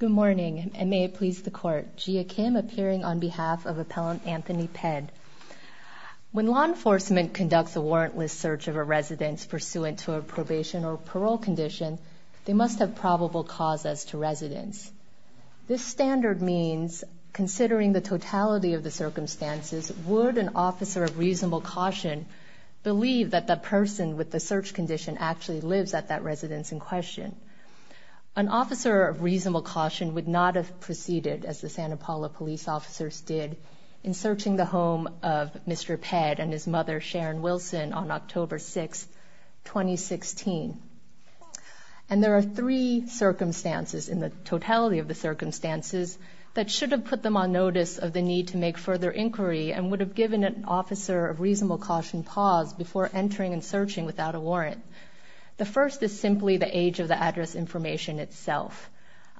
Good morning and may it please the court. Jia Kim appearing on behalf of appellant Anthony Ped. When law enforcement conducts a warrantless search of a residence pursuant to a probation or parole condition, they must have probable cause as to residence. This standard means, considering the totality of the circumstances, would an officer of reasonable caution believe that the person with the search condition actually lives at that would not have proceeded, as the Santa Paula police officers did, in searching the home of Mr. Ped and his mother Sharon Wilson on October 6, 2016. And there are three circumstances in the totality of the circumstances that should have put them on notice of the need to make further inquiry and would have given an officer of reasonable caution pause before entering and searching without a warrant. The first is simply the age of the address information itself.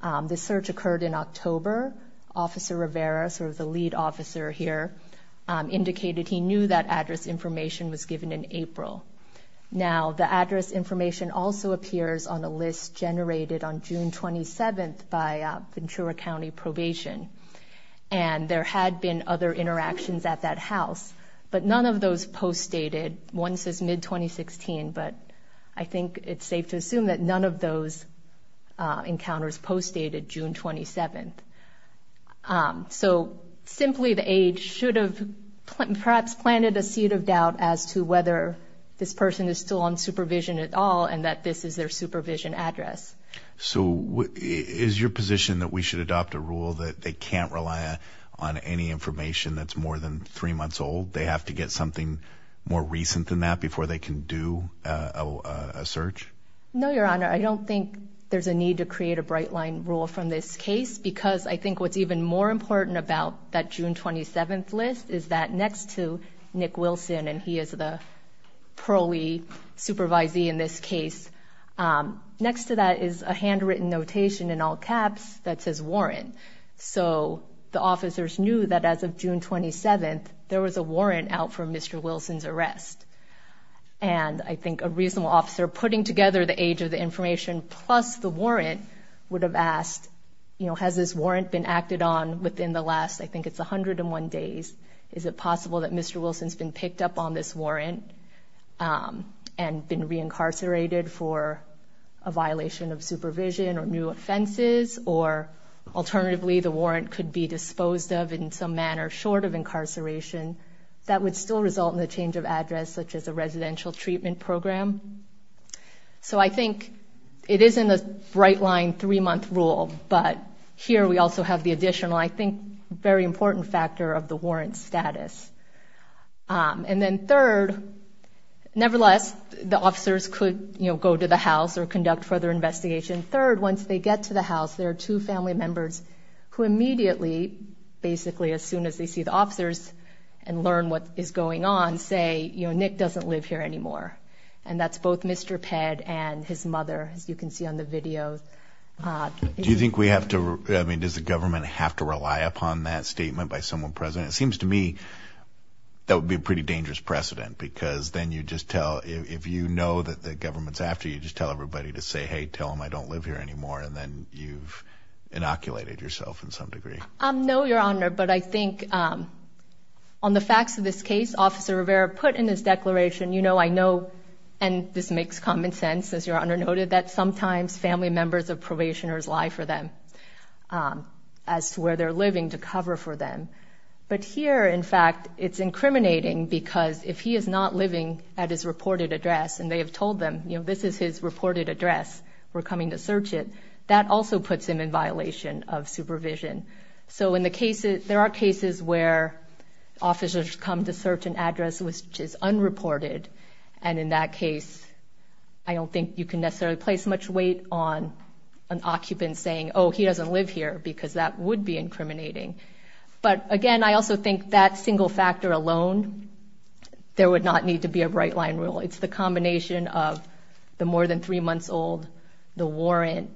The search occurred in October. Officer Rivera, sort of the lead officer here, indicated he knew that address information was given in April. Now, the address information also appears on a list generated on June 27th by Ventura County Probation, and there had been other interactions at that house, but none of those post dated. One says mid 2016, but I think it's safe to assume that none of those encounters post dated June 27th. So, simply the age should have perhaps planted a seed of doubt as to whether this person is still on supervision at all and that this is their supervision address. So, is your position that we should adopt a rule that they can't rely on any information that's more than three months old? They have to get something more recent than that before they can do a search? No, Your Honor. I don't think there's a need to create a bright line rule from this case because I think what's even more important about that June 27th list is that next to Nick Wilson, and he is the pearly supervisee in this case, next to that is a handwritten notation in all caps that says warrant. So, the officers knew that as of June 27th, there was a warrant out for Mr. Wilson's arrest, and I think a reasonable officer putting together the age of the information plus the warrant would have asked, you know, has this warrant been acted on within the last, I think it's 101 days, is it possible that Mr. Wilson's been picked up on this warrant and been reincarcerated for a violation of supervision or new offenses or alternatively the warrant could be disposed of in some manner short of incarceration that would still result in the change of address such as a residential treatment program? So, I think it is in the bright line three-month rule, but here we also have the additional, I think, very important factor of the warrant status. And then third, nevertheless, the officers could, you know, go to the house or conduct further investigation. Third, once they get to the house, there are two family members who immediately, basically as soon as they see the officers and learn what is going on, say, you know, Nick doesn't live here anymore. And that's both Mr. Pedd and his mother, as you can see on the video. Do you think we have to, I mean, does the government have to rely upon that statement by someone present? It seems to me that would be a pretty dangerous precedent because then you just tell, if you know that the government's after you, just tell everybody to say, hey, tell them I don't live here anymore. And then you've inoculated yourself in some degree. No, Your Honor, but I think on the facts of this case, Officer Rivera put in his declaration, you know, I know, and this makes common sense, as Your Honor noted, that sometimes family members of probationers lie for them as to where they're living to cover for them. But here, in fact, it's incriminating because if he is not living at his reported address and they have told them, you know, this is his reported address, we're coming to search it, that also puts him in violation of supervision. So in the cases, there are cases where officers come to search an address which is unreported, and in that case, I don't think you can necessarily place much weight on an occupant saying, oh, he doesn't live here because that would be incriminating. But again, I also think that single factor alone, there would not need to be a right-line rule. It's the combination of the more than three months old, the warrant,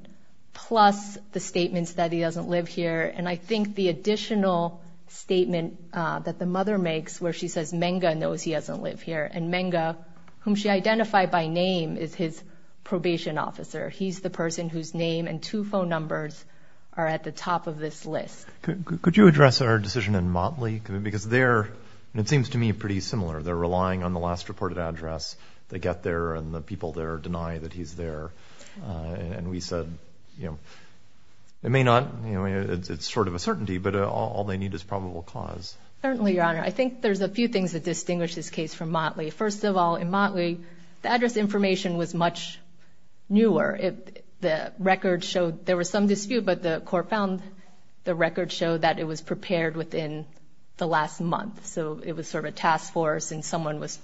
plus the statements that he doesn't live here. And I think the additional statement that the mother makes where she says Menga knows he doesn't live here, and Menga, whom she identified by name, is his probation officer. He's the person whose name and two phone numbers are at the top of this list. Could you address our decision in Motley? Because they're, it is the last reported address. They get there, and the people there deny that he's there. And we said, you know, it may not, you know, it's sort of a certainty, but all they need is probable cause. Certainly, Your Honor. I think there's a few things that distinguish this case from Motley. First of all, in Motley, the address information was much newer. The record showed there was some dispute, but the court found the record showed that it was prepared within the last month. So it was sort of a task force, and someone was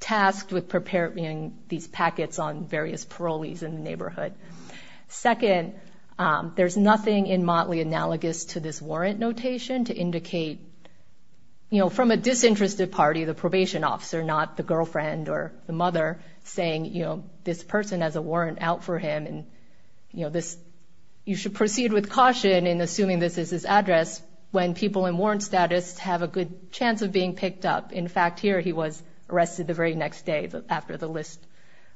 tasked with preparing these packets on various parolees in the neighborhood. Second, there's nothing in Motley analogous to this warrant notation to indicate, you know, from a disinterested party, the probation officer, not the girlfriend or the mother, saying, you know, this person has a warrant out for him. And, you know, this, you should proceed with caution in assuming this is his address when people in warrant status have a good chance of being picked up. In fact, here, he was arrested the very next day after the list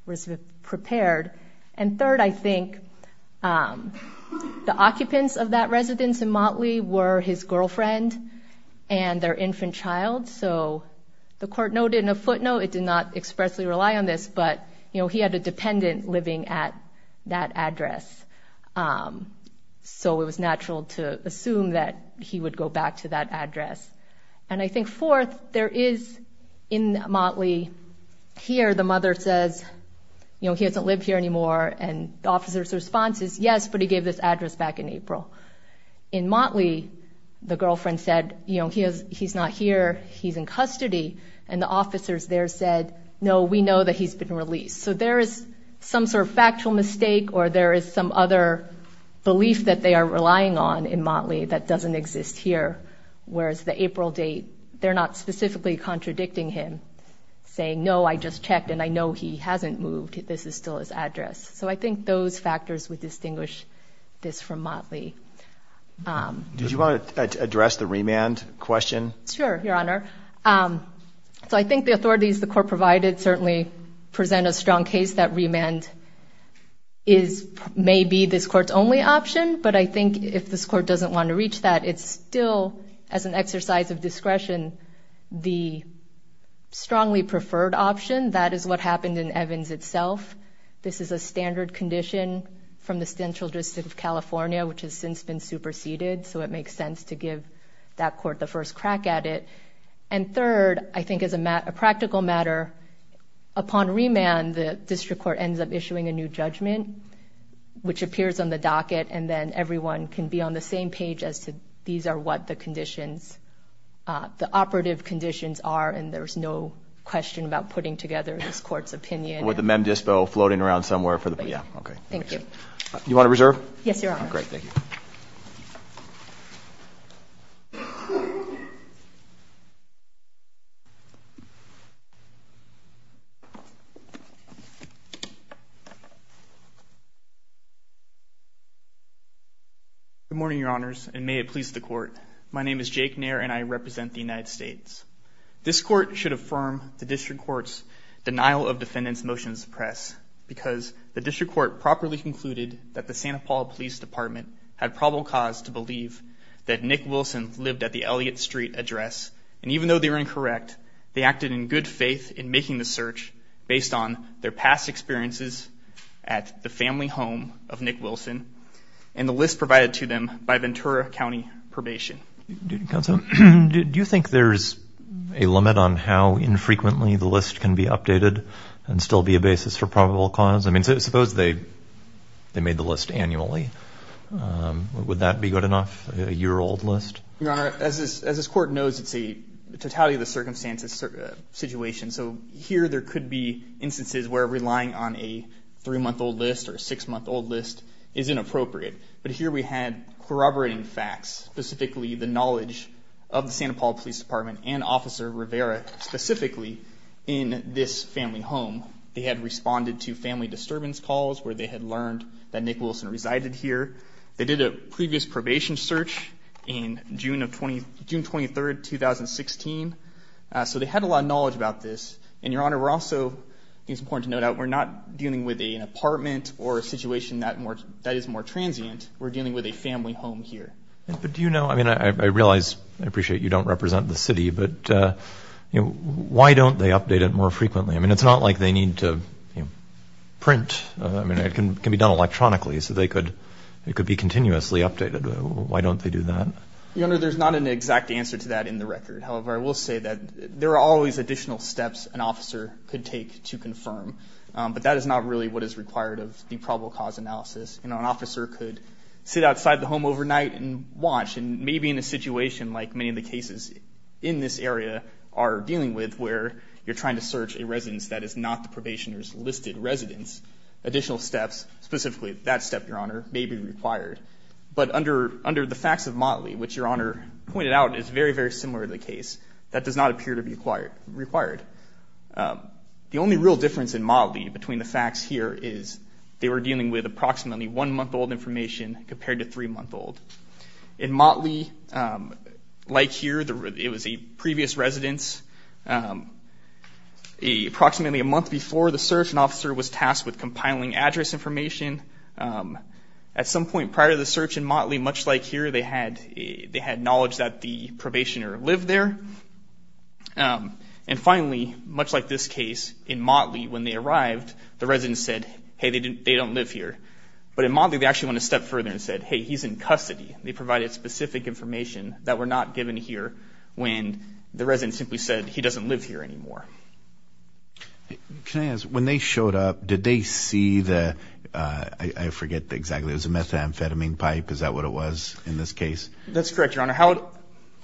was prepared. And third, I think, the occupants of that residence in Motley were his girlfriend and their infant child. So the court noted in a footnote, it did not expressly rely on this, but, you know, he had a dependent living at that address. So it was natural to assume that he would go back to that address. And I think fourth, there is in Motley here, the mother says, you know, he doesn't live here anymore. And the officer's response is, yes, but he gave this address back in April. In Motley, the girlfriend said, you know, he's not here, he's in custody. And the officers there said, no, we know that he's been released. So there is some sort of factual mistake, or there is some other belief that they are relying on in that doesn't exist here. Whereas the April date, they're not specifically contradicting him saying, no, I just checked and I know he hasn't moved. This is still his address. So I think those factors would distinguish this from Motley. Did you want to address the remand question? Sure, Your Honor. So I think the authorities the court provided certainly present a strong case that remand is maybe this court's only option. But I think that it's still, as an exercise of discretion, the strongly preferred option. That is what happened in Evans itself. This is a standard condition from the central district of California, which has since been superseded. So it makes sense to give that court the first crack at it. And third, I think as a practical matter, upon remand, the district court ends up issuing a new judgment, which appears on the docket, and then everyone can be on the same page as to these are what the conditions, the operative conditions are. And there's no question about putting together this court's opinion. With the mem dispo floating around somewhere for the, yeah, okay. Thank you. You want to reserve? Yes, Your Honor. Great, thank you. Okay. Good morning, Your Honors, and may it please the court. My name is Jake Nair, and I represent the United States. This court should affirm the district court's denial of defendant's motion to suppress because the district court properly concluded that the Santa Paula Police Department had probable cause to believe that Nick Wilson lived at the Elliott Street address. And even though they were incorrect, they acted in good faith in making the search based on their past experiences at the family home of Nick Wilson and the list provided to them by Ventura County Probation. Do you think there's a limit on how infrequently the list can be updated and still be a basis for probable cause? I mean, suppose they, they made the list annually. Would that be good enough, a year old list? Your Honor, as this court knows, it's a totality of the circumstances situation. So here there could be instances where relying on a three month old list or a six month old list is inappropriate. But here we had corroborating facts, specifically the knowledge of the Santa Paula Police Department and Officer Rivera, specifically in this family home. They had responded to family resided here. They did a previous probation search in June 23rd, 2016. So they had a lot of knowledge about this. And Your Honor, we're also, it's important to note out, we're not dealing with an apartment or a situation that more, that is more transient. We're dealing with a family home here. But do you know, I mean, I realize, I appreciate you don't represent the city, but, you know, why don't they update it more frequently? I mean, it's not like they need to print. I mean, it can be done electronically, so they could, it could be continuously updated. Why don't they do that? Your Honor, there's not an exact answer to that in the record. However, I will say that there are always additional steps an officer could take to confirm. But that is not really what is required of the probable cause analysis. You know, an officer could sit outside the home overnight and watch, and maybe in a situation like many of the cases in this area are dealing with, where you're trying to search a residence that is not the probationer's listed residence, additional steps, specifically that step, Your Honor, may be required. But under, under the facts of Motley, which Your Honor pointed out is very, very similar to the case, that does not appear to be required. The only real difference in Motley between the facts here is they were dealing with approximately one month old information compared to three month old. In Motley, like here, it was a approximately a month before the search, an officer was tasked with compiling address information. At some point prior to the search in Motley, much like here, they had, they had knowledge that the probationer lived there. And finally, much like this case in Motley, when they arrived, the resident said, hey, they didn't, they don't live here. But in Motley, they actually went a step further and said, hey, he's in custody. They provided specific information that were not given here when the resident simply said he doesn't live here anymore. Can I ask, when they showed up, did they see the, I forget exactly, it was a methamphetamine pipe. Is that what it was in this case? That's correct, Your Honor. How?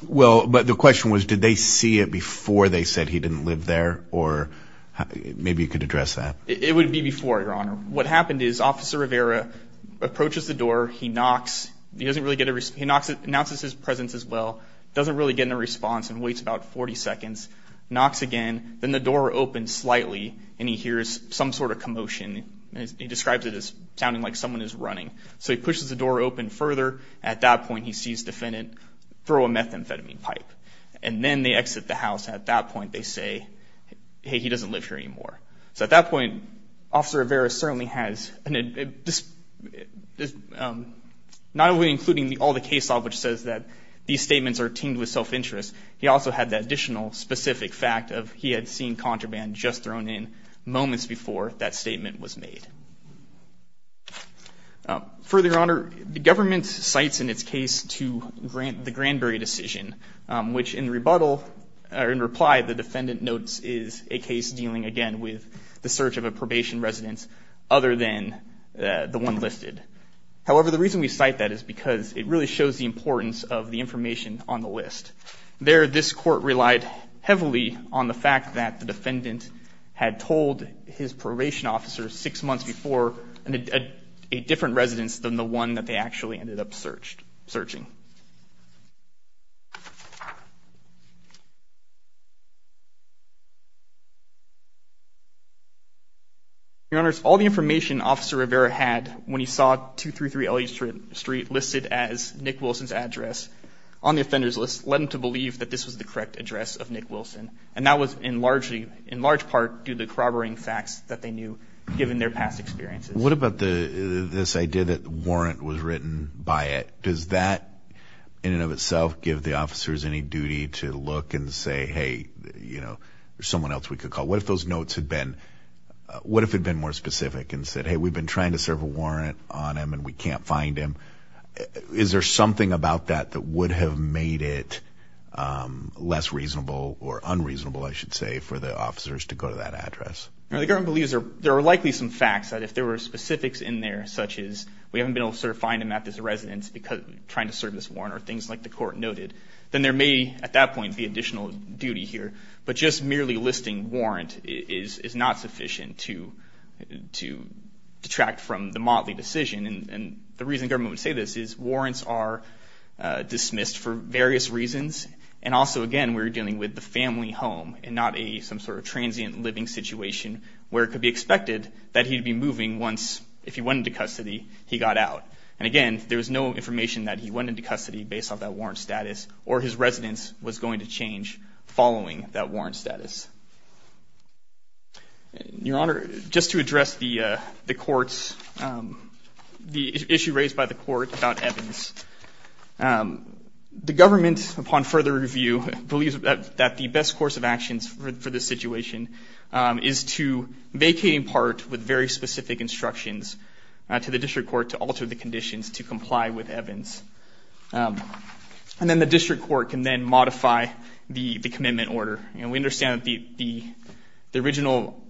Well, but the question was, did they see it before they said he didn't live there? Or maybe you could address that. It would be before, Your Honor. What happened is Officer Rivera approaches the door. He knocks. He doesn't really get a response. He knocks, announces his presence as well. Doesn't really get in a response and waits about 40 seconds. Knocks again. Then the door opens slightly and he hears some sort of commotion. He describes it as sounding like someone is running. So he pushes the door open further. At that point, he sees defendant throw a methamphetamine pipe and then they exit the house. At that point, they say, hey, he doesn't live here anymore. So at that point, Officer Rivera certainly has, um, not only including all the case law, which says that these statements are teamed with seeing contraband just thrown in moments before that statement was made. Further, Your Honor, the government cites in its case to grant the Granberry decision, which in rebuttal or in reply, the defendant notes is a case dealing again with the search of a probation residence other than the one listed. However, the reason we cite that is because it really shows the importance of the information on the list. There, this court relied heavily on the fact that the defendant had told his probation officer six months before a different residence than the one that they actually ended up searched, searching. Your Honor, all the information Officer Rivera had when he saw 233 L. E. Street listed as Nick Wilson's address on the offender's list led him to believe that this was the correct address of Nick Wilson, and that was in largely, in large part due to corroborating facts that they knew given their past experiences. What about the this idea that warrant was written by it? Does that in and of itself give the officers any duty to look and say, Hey, you know, there's someone else we could call. What if those notes had been? What if it had been more specific and said, Hey, we've been trying to serve a warrant on him and we can't find him? Is there something about that that would have made it, um, less reasonable or unreasonable, I should say, for the officers to go to that address? The government believes there are likely some facts that if there were specifics in there, such as we haven't been able to find him at this residence because trying to serve this warrant or things like the court noted, then there may, at that point, be additional duty here. But just merely listing warrant is not sufficient to to detract from the motley decision. And the reason government would say this is warrants are dismissed for various reasons. And also again, we're dealing with the family home and not a some sort of transient living situation where it could be expected that he'd be moving once. If you went into custody, he got out. And again, there was no information that he went into custody based off that warrant status or his residence was going to change following that warrant status. Your Honor, just to address the court's, um, the issue raised by the court about Evans. Um, the government, upon further review, believes that the best course of actions for this situation is to vacate in part with very specific instructions to the district court to alter the conditions to comply with Evans. Um, and then the district court can then modify the commitment order. We understand that the original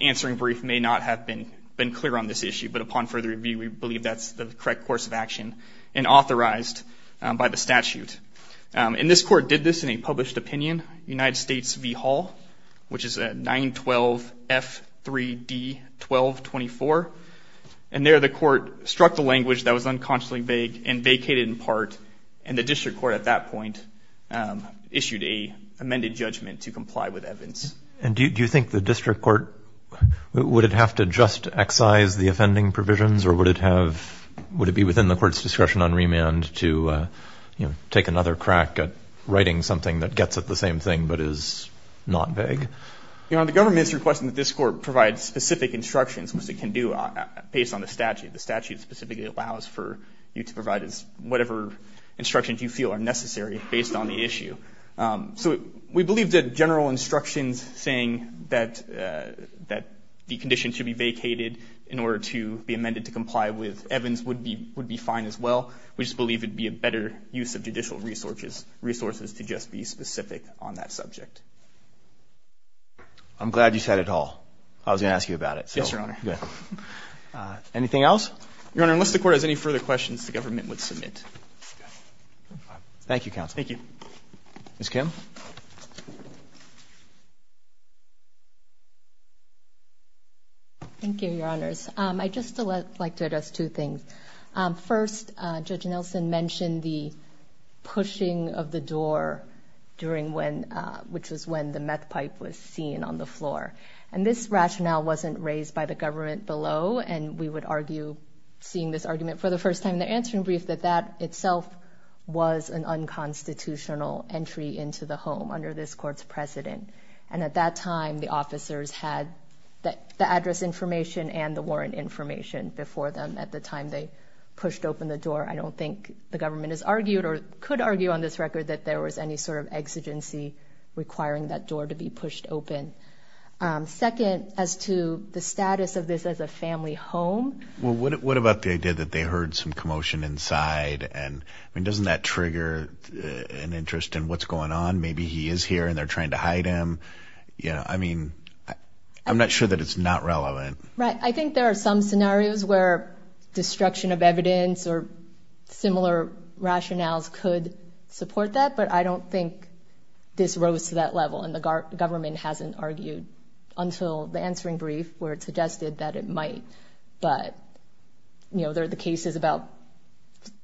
answering brief may not have been clear on this issue. But upon further review, we believe that's the correct course of action and authorized by the statute. And this court did this in a published opinion, United States v. Hall, which is a 9-12-F-3-D-12-24. And there the court struck the language that was unconsciously vague and vacated in part. And the district court at that point, um, issued a amended judgment to comply with Evans. And do you think the district court, would it have to just excise the offending provisions or would it have, would it be within the court's discretion on remand to, uh, you know, take another crack at writing something that gets at the same thing, but is not vague? Your Honor, the government is requesting that this court provide specific instructions, which they can do based on the statute. The statute specifically allows for you to provide whatever instructions you feel are necessary based on the issue. Um, so we believe that general instructions saying that, uh, that the condition should be vacated in order to be amended to comply with Evans would be, would be fine as well. We just believe it'd be a better use of judicial resources, resources to just be specific on that subject. I'm glad you said it all. I was gonna ask you about it. Yes, Your Honor. Anything else? Your Honor, unless the court has any further questions, the submit. Thank you, Counsel. Thank you, Miss Kim. Thank you, Your Honors. I just like to address two things. First, Judge Nelson mentioned the pushing of the door during when, which was when the meth pipe was seen on the floor. And this rationale wasn't raised by the government below. And we would argue seeing this argument for the first time, the answering brief that that itself was an unconstitutional entry into the home under this court's precedent. And at that time, the officers had the address information and the warrant information before them at the time they pushed open the door. I don't think the government is argued or could argue on this record that there was any sort of exigency requiring that door to be pushed open. Um, second, as to the status of this as a family home. Well, what about the idea that they heard some commotion inside? And I mean, doesn't that trigger an interest in what's going on? Maybe he is here and they're trying to hide him. You know, I mean, I'm not sure that it's not relevant, right? I think there are some scenarios where destruction of evidence or similar rationales could support that. But I don't think this rose to that level. And the government hasn't argued until the answering brief where suggested that it might. But, you know, there are the cases about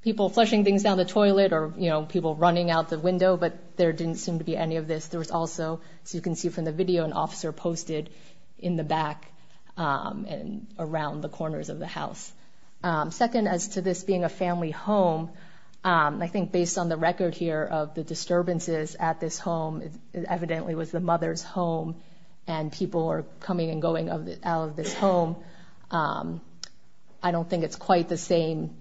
people flushing things down the toilet or, you know, people running out the window. But there didn't seem to be any of this. There was also, as you can see from the video, an officer posted in the back, um, and around the corners of the house. Um, second, as to this being a family home, um, I think, based on the record here of the disturbances at this home, it evidently was the mother's and people are coming and going out of this home. Um, I don't think it's quite the same,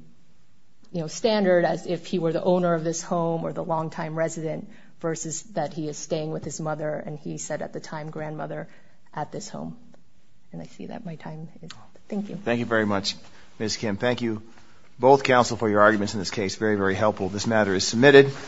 you know, standard as if he were the owner of this home or the longtime resident versus that he is staying with his mother. And he said at the time, grandmother at this home. And I see that my time. Thank you. Thank you very much, Miss Kim. Thank you. Both counsel for your arguments in this